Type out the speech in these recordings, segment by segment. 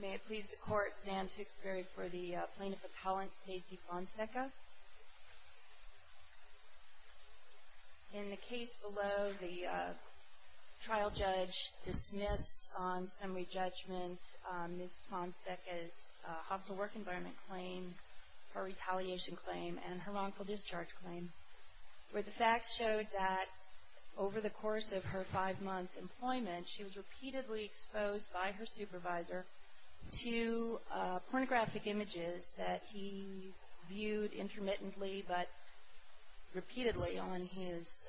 May it please the Court, Sam Tewksbury for the Plaintiff Appellant, Stacey Fonseca. In the case below, the trial judge dismissed on summary judgment Ms. Fonseca's hospital work environment claim, her retaliation claim, and her wrongful discharge claim, where the facts showed that over the course of her five-month employment, she was repeatedly exposed by her supervisor to pornographic images that he viewed intermittently but repeatedly on his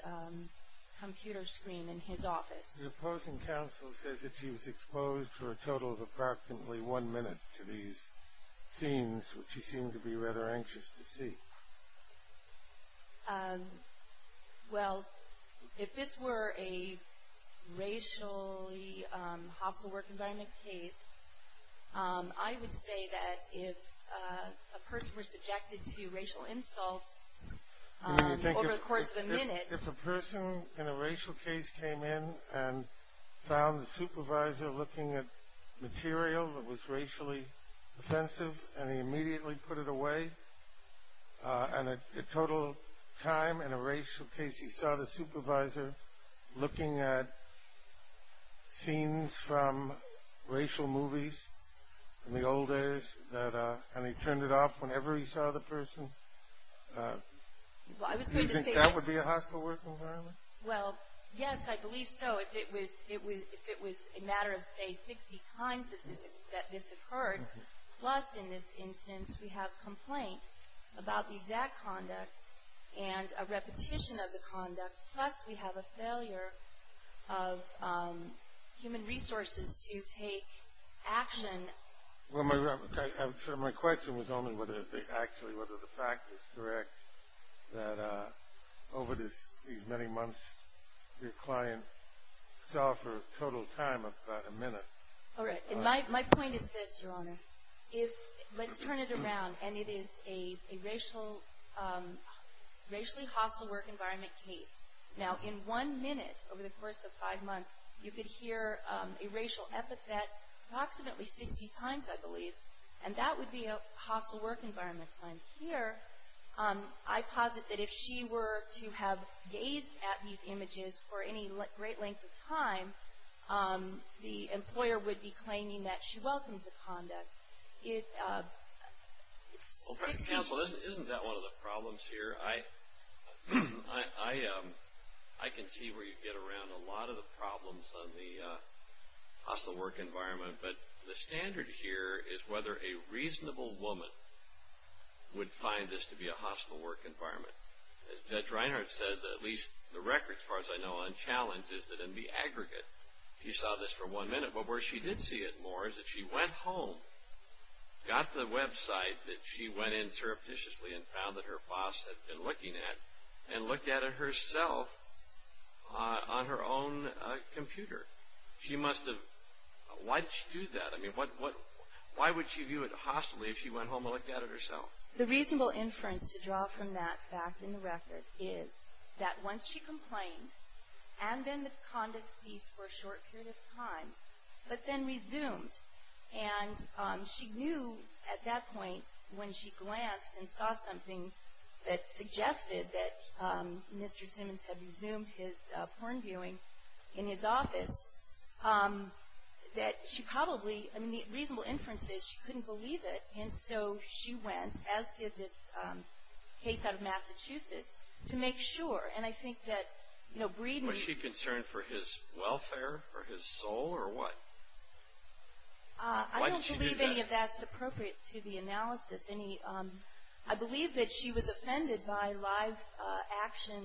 computer screen in his office. The opposing counsel says that she was exposed for a total of approximately one minute to these scenes, which she seemed to be rather anxious to see. Well, if this were a racially hostile work environment case, I would say that if a person were subjected to racial insults over the course of a minute If a person in a racial case came in and found the supervisor looking at material that was racially offensive and he immediately put it away, and a total time in a racial case he saw the supervisor looking at scenes from racial movies in the old days and he turned it off whenever he saw the person, do you think that would be a hostile work environment? Well, yes, I believe so. But if it was a matter of, say, 60 times that this occurred, plus in this instance we have complaint about the exact conduct and a repetition of the conduct, plus we have a failure of human resources to take action. Well, my question was only actually whether the fact is correct that over these many months your client saw for a total time of about a minute. All right. My point is this, Your Honor. Let's turn it around, and it is a racially hostile work environment case. Now, in one minute, over the course of five months, you could hear a racial epithet approximately 60 times, I believe, and that would be a hostile work environment claim. Here, I posit that if she were to have gazed at these images for any great length of time, the employer would be claiming that she welcomed the conduct. Counsel, isn't that one of the problems here? I can see where you get around a lot of the problems on the hostile work environment, but the standard here is whether a reasonable woman would find this to be a hostile work environment. As Judge Reinhart said, at least the record, as far as I know, on challenge is that in the aggregate, she saw this for one minute, but where she did see it more is that she went home, got the website that she went in surreptitiously and found that her boss had been looking at, and looked at it herself on her own computer. She must have – why did she do that? I mean, why would she view it hostilely if she went home and looked at it herself? The reasonable inference to draw from that fact in the record is that once she complained, but then resumed, and she knew at that point when she glanced and saw something that suggested that Mr. Simmons had resumed his porn viewing in his office, that she probably – I mean, the reasonable inference is she couldn't believe it, and so she went, as did this case out of Massachusetts, to make sure. And I think that Breeden – Did she do that for his welfare, for his soul, or what? Why did she do that? I don't believe any of that's appropriate to the analysis. I believe that she was offended by live-action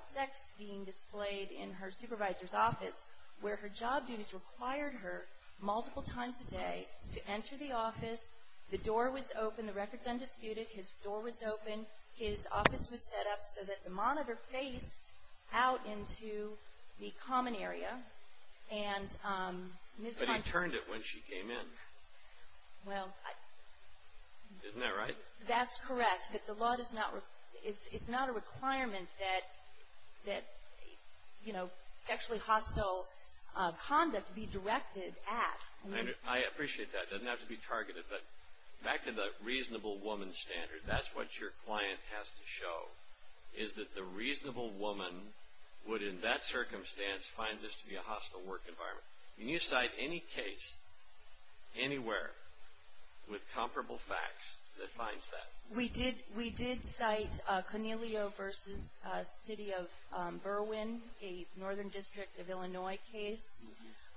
sex being displayed in her supervisor's office, where her job duties required her multiple times a day to enter the office. The door was open. The record's undisputed. His door was open. His office was set up so that the monitor faced out into the common area, and Ms. Hunter – But he turned it when she came in. Well, I – Isn't that right? That's correct. But the law does not – it's not a requirement that, you know, sexually hostile conduct be directed at. I appreciate that. It doesn't have to be targeted. But back to the reasonable woman standard, that's what your client has to show, is that the reasonable woman would, in that circumstance, find this to be a hostile work environment. Can you cite any case anywhere with comparable facts that finds that? We did cite Cornelio v. City of Berwyn, a Northern District of Illinois case,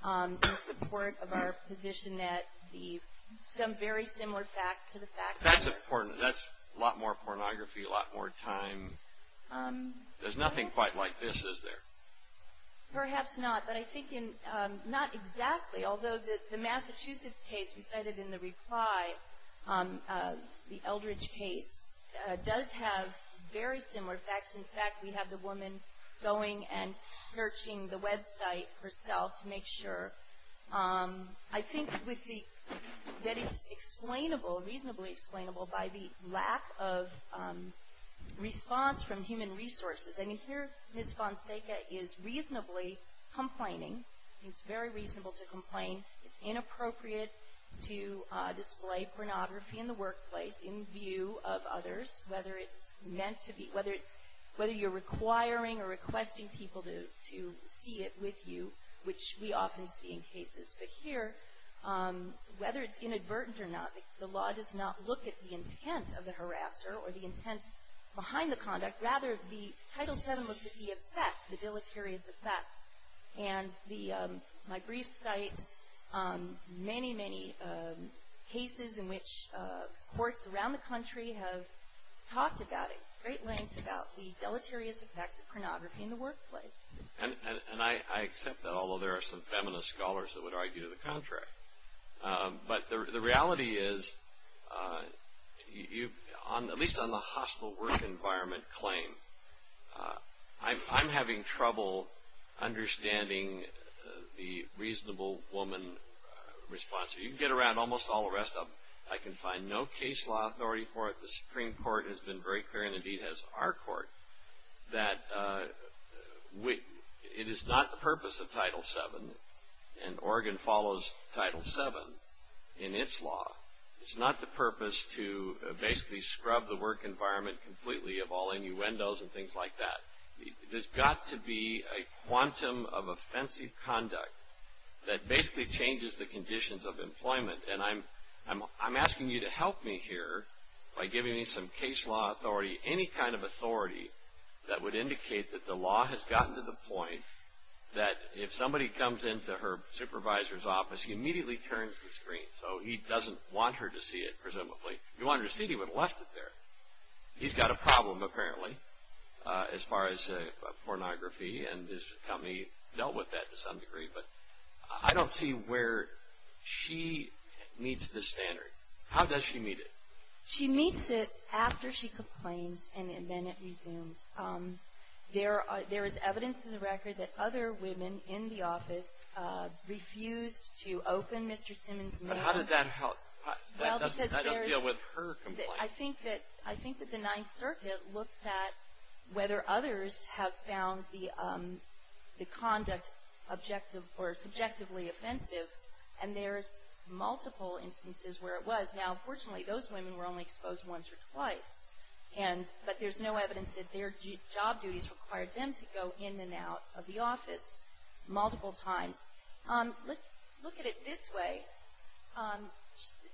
in support of our position that the – some very similar facts to the fact that – That's important. That's a lot more pornography, a lot more time. There's nothing quite like this, is there? Perhaps not. But I think in – not exactly. Although the Massachusetts case we cited in the reply, the Eldridge case, does have very similar facts. In fact, we have the woman going and searching the website herself to make sure. I think with the – that it's explainable, reasonably explainable, by the lack of response from human resources. I mean, here Ms. Fonseca is reasonably complaining. It's very reasonable to complain. It's inappropriate to display pornography in the workplace in view of others, whether it's meant to be – whether it's – whether you're requiring or requesting people to see it with you, which we often see in cases. But here, whether it's inadvertent or not, the law does not look at the intent of the harasser or the intent behind the conduct. Rather, the Title VII looks at the effect, the deleterious effect. And my brief cite many, many cases in which courts around the country have talked about it, at great lengths, about the deleterious effects of pornography in the workplace. And I accept that, although there are some feminist scholars that would argue the contrary. But the reality is, at least on the hostile work environment claim, I'm having trouble understanding the reasonable woman response. You can get around almost all the rest of them. I can find no case law authority for it. The Supreme Court has been very clear, and indeed has our court, that it is not the purpose of Title VII, and Oregon follows Title VII in its law. It's not the purpose to basically scrub the work environment completely of all innuendos and things like that. There's got to be a quantum of offensive conduct that basically changes the conditions of employment. And I'm asking you to help me here by giving me some case law authority, any kind of authority that would indicate that the law has gotten to the point that if somebody comes into her supervisor's office, he immediately turns the screen. So he doesn't want her to see it, presumably. If he wanted to see it, he would have left it there. He's got a problem, apparently, as far as pornography, and his company dealt with that to some degree. But I don't see where she meets the standard. How does she meet it? She meets it after she complains, and then it resumes. There is evidence in the record that other women in the office refused to open Mr. Simmons' mail. But how did that help? That doesn't deal with her complaint. I think that the Ninth Circuit looks at whether others have found the conduct objective or subjectively offensive, and there's multiple instances where it was. Now, unfortunately, those women were only exposed once or twice. But there's no evidence that their job duties required them to go in and out of the office multiple times. Let's look at it this way.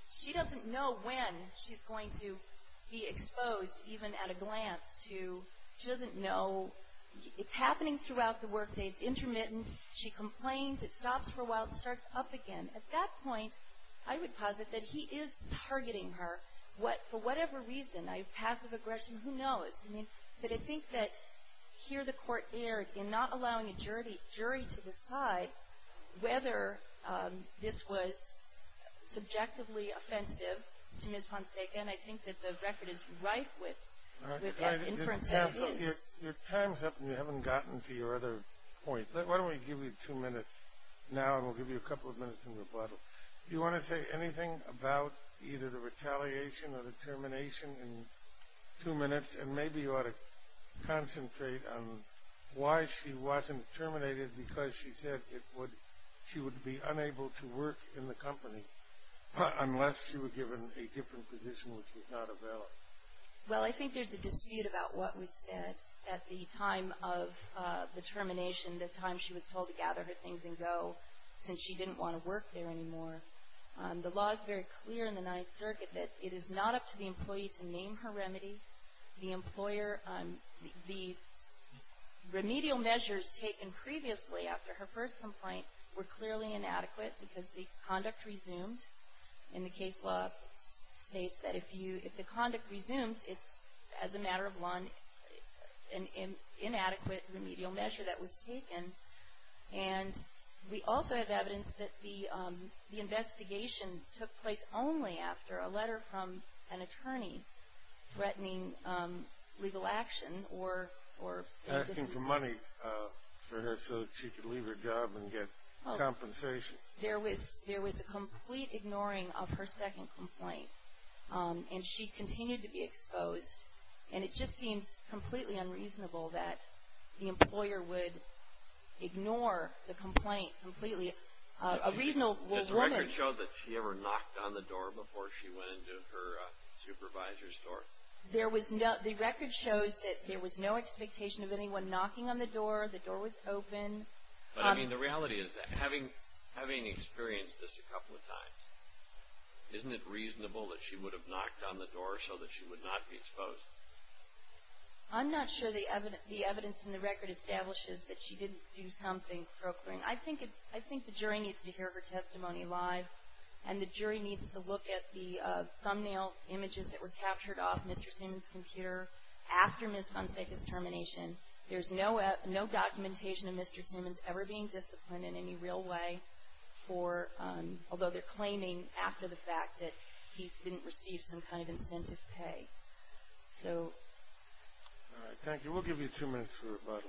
She doesn't know when she's going to be exposed, even at a glance. She doesn't know. It's happening throughout the workday. It's intermittent. She complains. It stops for a while. It starts up again. At that point, I would posit that he is targeting her. For whatever reason, passive aggression, who knows? But I think that here the court erred in not allowing a jury to decide whether this was subjectively offensive to Ms. Poncega, and I think that the record is rife with inference that it is. Your time's up, and you haven't gotten to your other point. Why don't we give you two minutes now, and we'll give you a couple of minutes in rebuttal. Do you want to say anything about either the retaliation or the termination in two minutes? And maybe you ought to concentrate on why she wasn't terminated, because she said she would be unable to work in the company unless she were given a different position which was not available. Well, I think there's a dispute about what was said at the time of the termination, the time she was told to gather her things and go since she didn't want to work there anymore. The law is very clear in the Ninth Circuit that it is not up to the employee to name her remedy. The remedial measures taken previously after her first complaint were clearly inadequate because the conduct resumed, and the case law states that if the conduct resumes, it's as a matter of law an inadequate remedial measure that was taken. And we also have evidence that the investigation took place only after a letter from an attorney threatening legal action or... Asking for money for her so she could leave her job and get compensation. There was a complete ignoring of her second complaint, and she continued to be exposed. And it just seems completely unreasonable that the employer would ignore the complaint completely. A reasonable woman... Does the record show that she ever knocked on the door before she went into her supervisor's door? The record shows that there was no expectation of anyone knocking on the door. The door was open. But I mean, the reality is that having experienced this a couple of times, isn't it reasonable that she would have knocked on the door so that she would not be exposed? I'm not sure the evidence in the record establishes that she didn't do something proclaiming. I think the jury needs to hear her testimony live, and the jury needs to look at the thumbnail images that were captured off Mr. Seaman's computer after Ms. Fonseca's termination. There's no documentation of Mr. Seaman's ever being disciplined in any real way for... although they're claiming after the fact that he didn't receive some kind of incentive pay. So... All right. Thank you. We'll give you two minutes for rebuttal.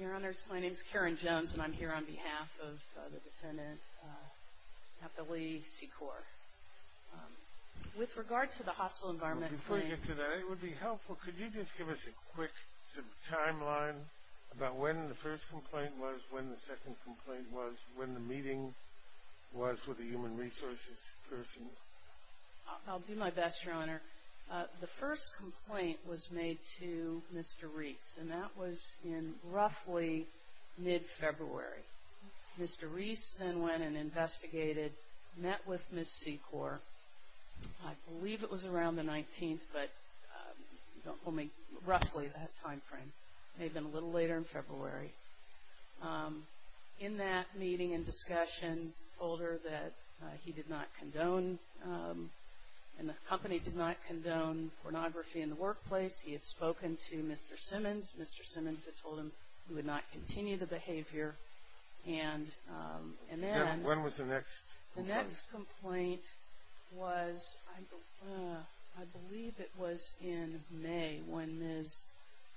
Your Honor, my name is Karen Jones, and I'm here on behalf of the defendant, Kathleen Secor. With regard to the hospital environment... Before you get to that, it would be helpful, could you just give us a quick timeline about when the first complaint was, when the second complaint was, when the meeting was with the human resources person? I'll do my best, Your Honor. The first complaint was made to Mr. Reese, and that was in roughly mid-February. Mr. Reese then went and investigated, met with Ms. Secor. I believe it was around the 19th, but roughly that time frame. It may have been a little later in February. In that meeting and discussion, he told her that he did not condone... And the company did not condone pornography in the workplace. He had spoken to Mr. Simmons. Mr. Simmons had told him he would not continue the behavior. And then... When was the next? The next complaint was, I believe it was in May, when Ms.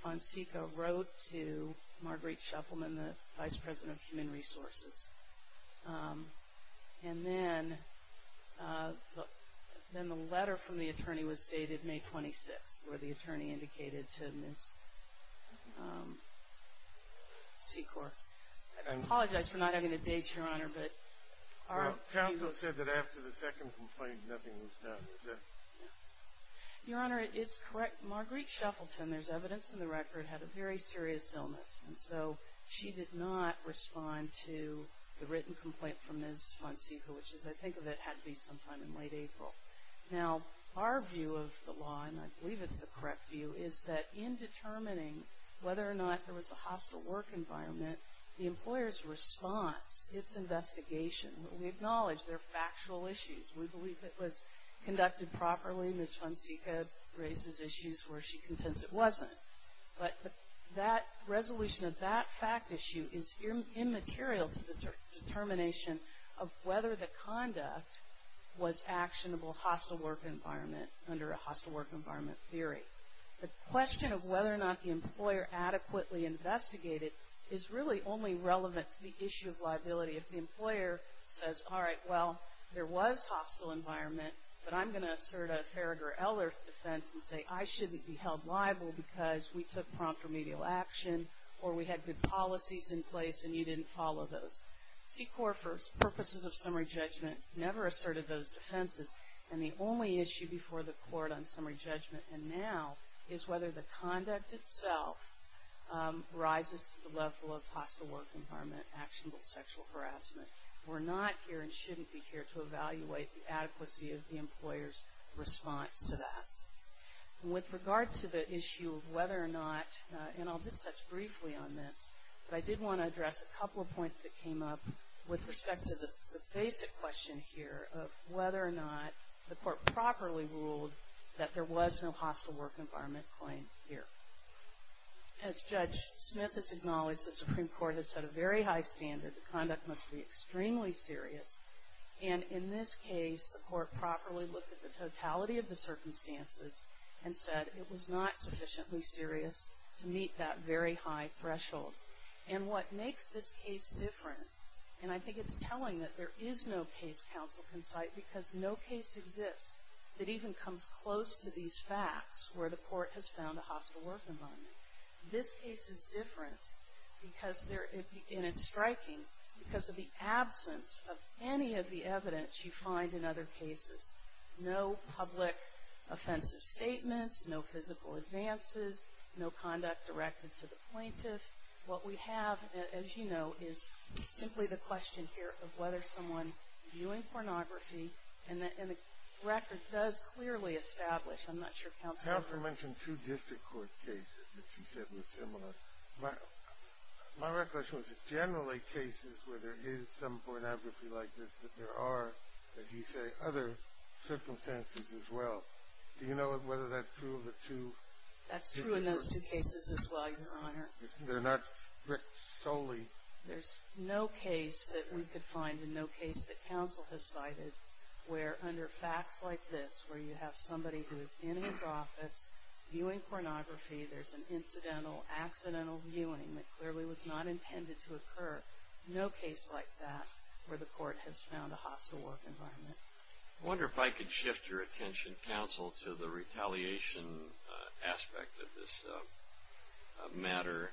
Fonseca wrote to Marguerite Shuffelman, the vice president of human resources. And then the letter from the attorney was dated May 26th, where the attorney indicated to Ms. Secor. I apologize for not having the dates, Your Honor, but... Well, counsel said that after the second complaint, nothing was done. Your Honor, it's correct. Marguerite Shuffleton, there's evidence in the record, had a very serious illness. And so she did not respond to the written complaint from Ms. Fonseca, which, as I think of it, had to be sometime in late April. Now, our view of the law, and I believe it's the correct view, is that in determining whether or not there was a hostile work environment, the employer's response, its investigation, we acknowledge they're factual issues. We believe it was conducted properly. Ms. Fonseca raises issues where she contends it wasn't. But that resolution of that fact issue is immaterial to the determination of whether the conduct was actionable hostile work environment under a hostile work environment theory. The question of whether or not the employer adequately investigated is really only relevant to the issue of liability. If the employer says, all right, well, there was hostile environment, but I'm going to assert a Farragher-Eller defense and say I shouldn't be held liable because we took prompt remedial action or we had good policies in place and you didn't follow those. C-Corp purposes of summary judgment never asserted those defenses, and the only issue before the court on summary judgment and now is whether the conduct itself rises to the level of hostile work environment, actionable sexual harassment. We're not here and shouldn't be here to evaluate the adequacy of the employer's response to that. With regard to the issue of whether or not, and I'll just touch briefly on this, but I did want to address a couple of points that came up with respect to the basic question here of whether or not the court properly ruled that there was no hostile work environment claim here. As Judge Smith has acknowledged, the Supreme Court has set a very high standard that conduct must be extremely serious. And in this case, the court properly looked at the totality of the circumstances and said it was not sufficiently serious to meet that very high threshold. And what makes this case different, and I think it's telling that there is no case counsel can cite because no case exists that even comes close to these facts where the court has found a hostile work environment. This case is different, and it's striking, because of the absence of any of the evidence you find in other cases. No public offensive statements, no physical advances, no conduct directed to the plaintiff. What we have, as you know, is simply the question here of whether someone viewing pornography, and the record does clearly establish, I'm not sure counsel can. Counselor mentioned two district court cases that she said were similar. My recollection was generally cases where there is some pornography like this, but there are, as you say, other circumstances as well. Do you know whether that's true of the two? That's true in those two cases as well, Your Honor. They're not strict solely. There's no case that we could find and no case that counsel has cited where under facts like this, where you have somebody who is in his office viewing pornography, there's an incidental, accidental viewing that clearly was not intended to occur. No case like that where the court has found a hostile work environment. I wonder if I could shift your attention, counsel, to the retaliation aspect of this matter.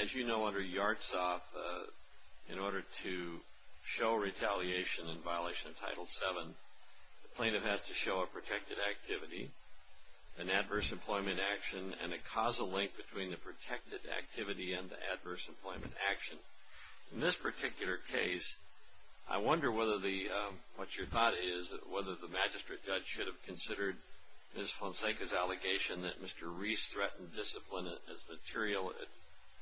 As you know, under Yartsov, in order to show retaliation in violation of Title VII, the plaintiff has to show a protected activity, an adverse employment action, and a causal link between the protected activity and the adverse employment action. In this particular case, I wonder what your thought is, whether the magistrate judge should have considered Ms. Fonseca's allegation that Mr. Reese threatened discipline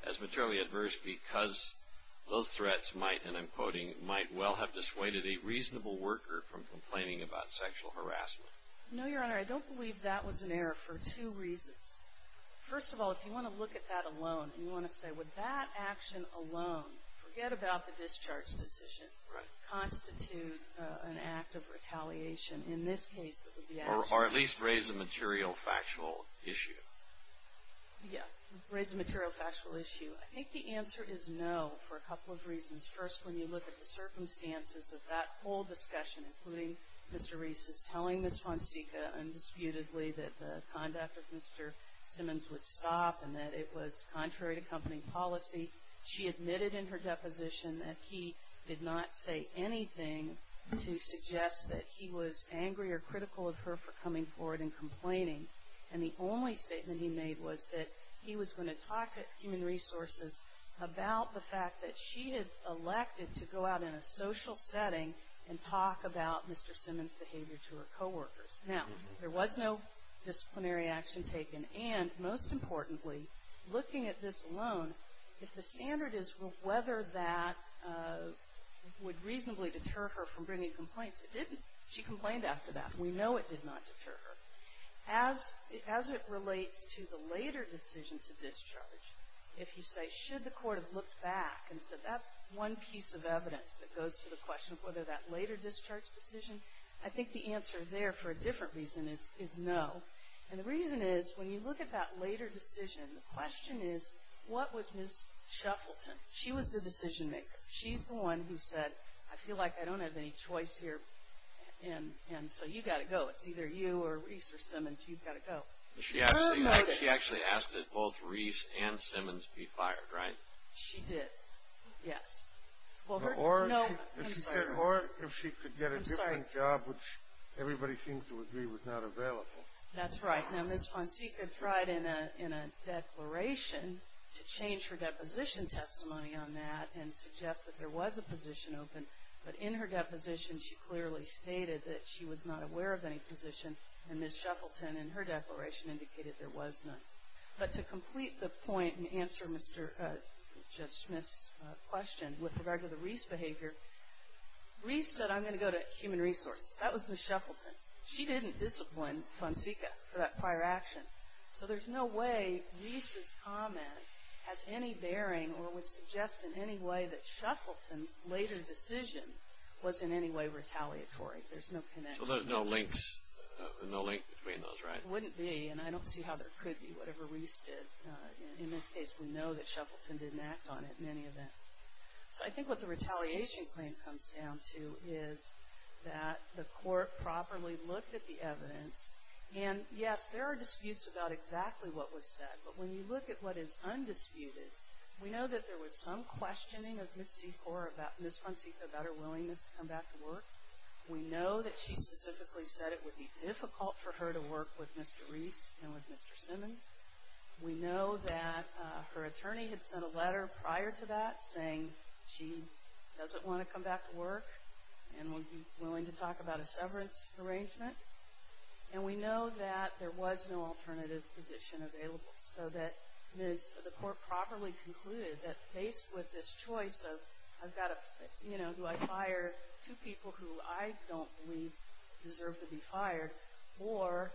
as materially adverse because those threats might, and I'm quoting, might well have dissuaded a reasonable worker from complaining about sexual harassment. No, Your Honor. I don't believe that was an error for two reasons. First of all, if you want to look at that alone, you want to say, would that action alone, forget about the discharge decision, constitute an act of retaliation? Or at least raise the material factual issue. Yeah. Raise the material factual issue. I think the answer is no for a couple of reasons. First, when you look at the circumstances of that whole discussion, including Mr. Reese's telling Ms. Fonseca undisputedly that the conduct of Mr. Simmons would stop and that it was contrary to company policy. She admitted in her deposition that he did not say anything to suggest that he was angry or critical of her for coming forward and complaining. And the only statement he made was that he was going to talk to Human Resources about the fact that she had elected to go out in a social setting and talk about Mr. Simmons' behavior to her coworkers. Now, there was no disciplinary action taken. And most importantly, looking at this alone, if the standard is whether that would reasonably deter her from bringing complaints, it didn't. She complained after that. We know it did not deter her. As it relates to the later decision to discharge, if you say, should the court have looked back and said, that's one piece of evidence that goes to the question of whether that later discharge decision, I think the answer there for a different reason is no. And the reason is when you look at that later decision, the question is what was Ms. Shuffleton? She was the decision maker. She's the one who said, I feel like I don't have any choice here, and so you've got to go. It's either you or Reese or Simmons. You've got to go. She actually asked that both Reese and Simmons be fired, right? She did, yes. Or if she could get a different job, which everybody seems to agree was not available. That's right. Now, Ms. Fonseca tried in a declaration to change her deposition testimony on that and suggest that there was a position open, but in her deposition she clearly stated that she was not aware of any position, and Ms. Shuffleton in her declaration indicated there was none. But to complete the point and answer Judge Smith's question with regard to the Reese behavior, Reese said, I'm going to go to human resources. That was Ms. Shuffleton. She didn't discipline Fonseca for that prior action. So there's no way Reese's comment has any bearing or would suggest in any way that Shuffleton's later decision was in any way retaliatory. There's no connection. So there's no link between those, right? There wouldn't be, and I don't see how there could be, whatever Reese did. In this case, we know that Shuffleton didn't act on it in any event. So I think what the retaliation claim comes down to is that the court properly looked at the evidence, and, yes, there are disputes about exactly what was said, but when you look at what is undisputed, we know that there was some questioning of Ms. Fonseca about her willingness to come back to work. We know that she specifically said it would be difficult for her to work with Mr. Reese and with Mr. Simmons. We know that her attorney had sent a letter prior to that saying she doesn't want to come back to work and would be willing to talk about a severance arrangement. And we know that there was no alternative position available, so that the court properly concluded that faced with this choice of do I fire two people who I don't believe deserve to be fired or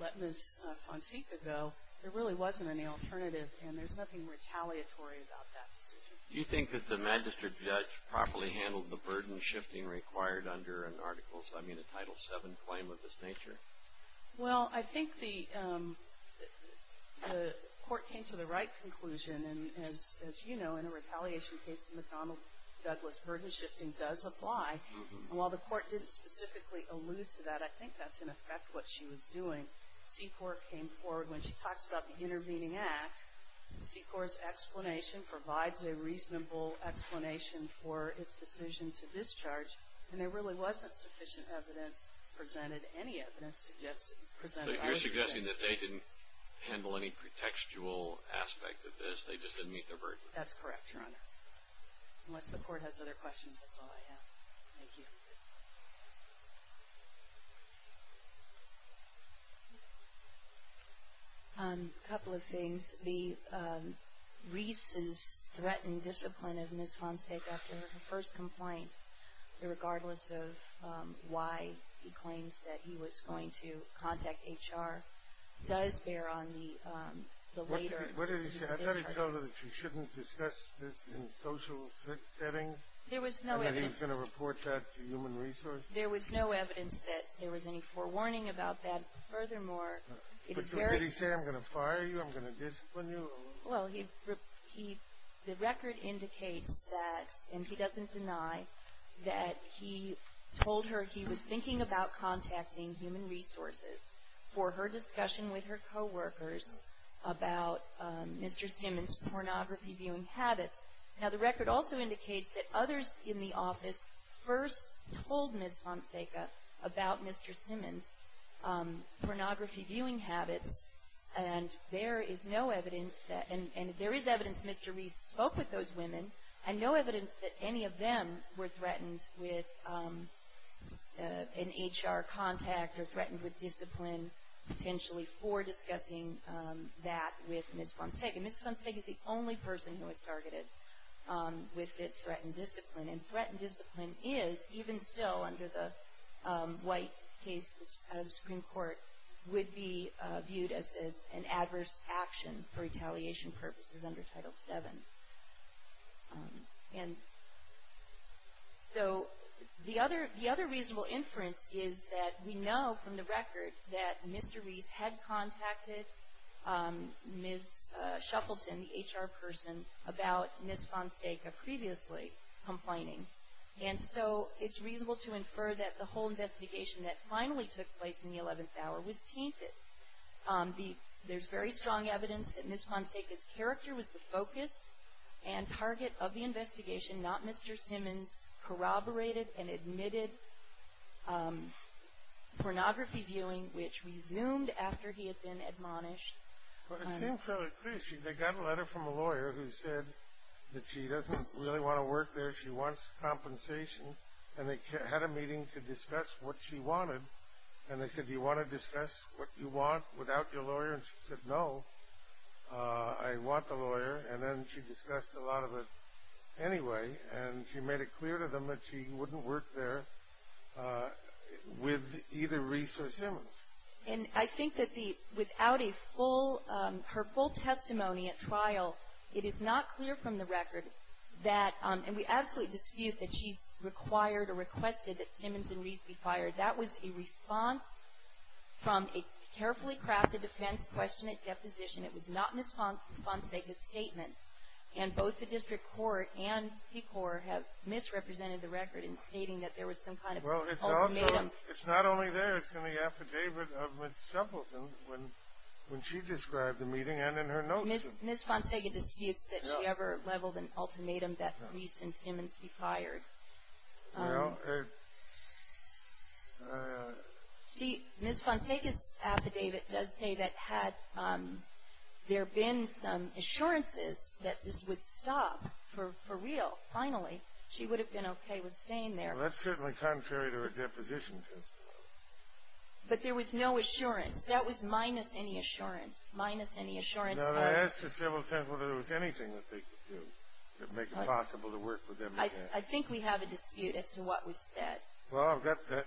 let Ms. Fonseca go, there really wasn't any alternative, and there's nothing retaliatory about that decision. Do you think that the magistrate judge properly handled the burden shifting required under an article, I mean a Title VII claim of this nature? Well, I think the court came to the right conclusion, and as you know, in a retaliation case, the McDonnell-Douglas burden shifting does apply. And while the court didn't specifically allude to that, I think that's, in effect, what she was doing. When Secor came forward, when she talks about the intervening act, Secor's explanation provides a reasonable explanation for its decision to discharge, and there really wasn't sufficient evidence presented, any evidence presented. So you're suggesting that they didn't handle any pretextual aspect of this, they just didn't meet their burden? That's correct, Your Honor. Unless the court has other questions, that's all I have. Thank you. A couple of things. The Reese's threatened discipline of Ms. Fonseca after her first complaint, regardless of why he claims that he was going to contact HR, does bear on the later dispute. What did he say? I thought he told her that she shouldn't discuss this in social settings, and that he was going to report that to human resources. There was no evidence that there was any forewarning about that. Furthermore, it's very... Did he say, I'm going to fire you, I'm going to discipline you? Well, the record indicates that, and he doesn't deny, that he told her he was thinking about contacting human resources for her discussion with her coworkers about Mr. Simmons' pornography viewing habits. Now, the record also indicates that others in the office first told Ms. Fonseca about Mr. Simmons' pornography viewing habits, and there is no evidence that, and there is evidence Mr. Reese spoke with those women, and no evidence that any of them were threatened with an HR contact or threatened with discipline, potentially for discussing that with Ms. Fonseca. Ms. Fonseca is the only person who was targeted with this threatened discipline, and threatened discipline is, even still under the white cases out of the Supreme Court, would be viewed as an adverse action for retaliation purposes under Title VII. And so, the other reasonable inference is that we know from the record that Mr. Reese had contacted Ms. Shuffleton, the HR person, about Ms. Fonseca previously complaining. And so, it's reasonable to infer that the whole investigation that finally took place in the 11th hour was tainted. There's very strong evidence that Ms. Fonseca's character was the focus and target of the investigation, not Mr. Simmons' corroborated and admitted pornography viewing, which resumed after he had been admonished. It seems fairly clear. They got a letter from a lawyer who said that she doesn't really want to work there. She wants compensation, and they had a meeting to discuss what she wanted, and they said, do you want to discuss what you want without your lawyer? And she said, no, I want the lawyer, and then she discussed a lot of it anyway, and she made it clear to them that she wouldn't work there with either Reese or Simmons. And I think that without her full testimony at trial, it is not clear from the record that, and we absolutely dispute that she required or requested that Simmons and Reese be fired. That was a response from a carefully crafted defense question at deposition. It was not Ms. Fonseca's statement, and both the district court and C-Corps have misrepresented the record in stating that there was some kind of ultimatum. Well, it's also, it's not only there. It's in the affidavit of Ms. Shuffleton when she described the meeting and in her notes. Ms. Fonseca disputes that she ever leveled an ultimatum that Reese and Simmons be fired. Right. Ms. Fonseca's affidavit does say that had there been some assurances that this would stop for real, finally, she would have been okay with staying there. Well, that's certainly contrary to a deposition testimony. But there was no assurance. That was minus any assurance, minus any assurance. Now, they asked the civil defense whether there was anything that they could do to make it possible to work with them again. I think we have a dispute as to what was said. Well, there's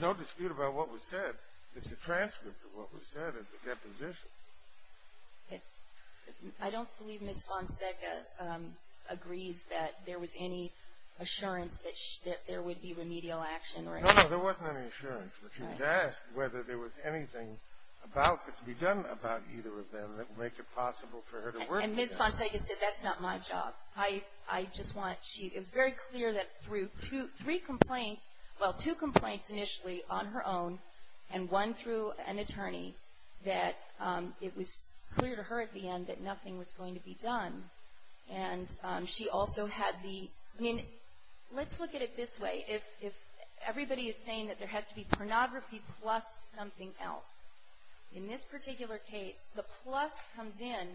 no dispute about what was said. It's a transcript of what was said at the deposition. I don't believe Ms. Fonseca agrees that there was any assurance that there would be remedial action. No, no, there wasn't any assurance. But she was asked whether there was anything about, that could be done about either of them, that would make it possible for her to work with them. And Ms. Fonseca said, that's not my job. I just want, it was very clear that through three complaints, well, two complaints initially on her own, and one through an attorney, that it was clear to her at the end that nothing was going to be done. And she also had the, I mean, let's look at it this way. If everybody is saying that there has to be pornography plus something else, in this particular case, the plus comes in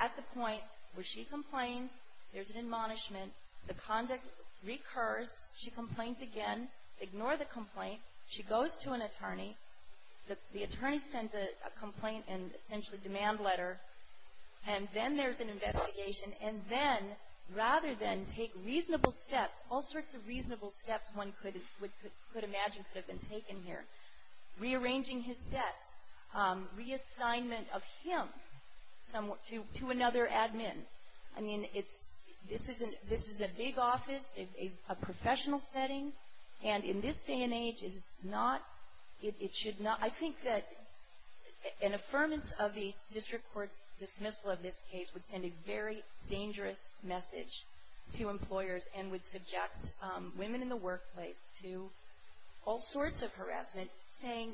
at the point where she complains. There's an admonishment. The conduct recurs. She complains again. Ignore the complaint. She goes to an attorney. The attorney sends a complaint and essentially a demand letter. And then there's an investigation. And then, rather than take reasonable steps, all sorts of reasonable steps one could imagine could have been taken here, rearranging his desk, reassignment of him to another admin. I mean, it's, this is a big office, a professional setting, and in this day and age, it is not, it should not, I think that an affirmance of the district court's dismissal of this case would send a very dangerous message to employers and would subject women in the workplace to all sorts of harassment, saying,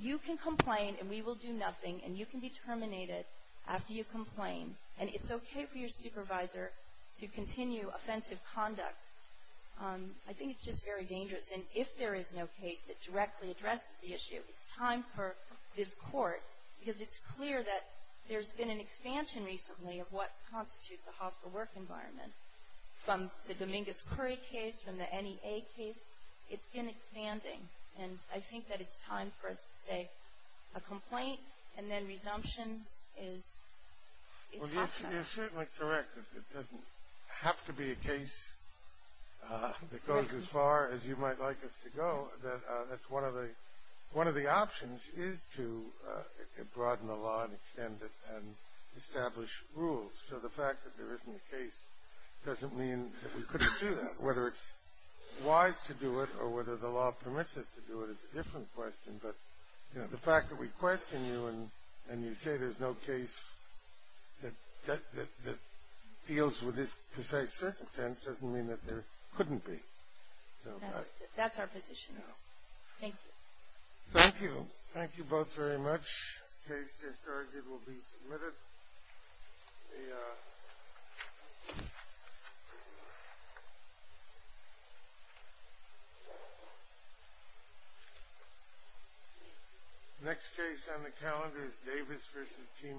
you can complain and we will do nothing, and you can be terminated after you complain, and it's okay for your supervisor to continue offensive conduct. I think it's just very dangerous. And if there is no case that directly addresses the issue, it's time for this court, because it's clear that there's been an expansion recently of what constitutes a hospital work environment. From the Dominguez-Curry case, from the NEA case, it's been expanding, and I think that it's time for us to say a complaint and then resumption is, it's hostile. Well, you're certainly correct that it doesn't have to be a case that goes as far as you might like us to go. One of the options is to broaden the law and extend it and establish rules. So the fact that there isn't a case doesn't mean that we couldn't do that. Whether it's wise to do it or whether the law permits us to do it is a different question, but the fact that we question you and you say there's no case that deals with this precise circumstance doesn't mean that there couldn't be. That's our position. Thank you. Thank you. Thank you both very much. The case just argued will be submitted. Next case on the calendar is Davis v. Team Electric.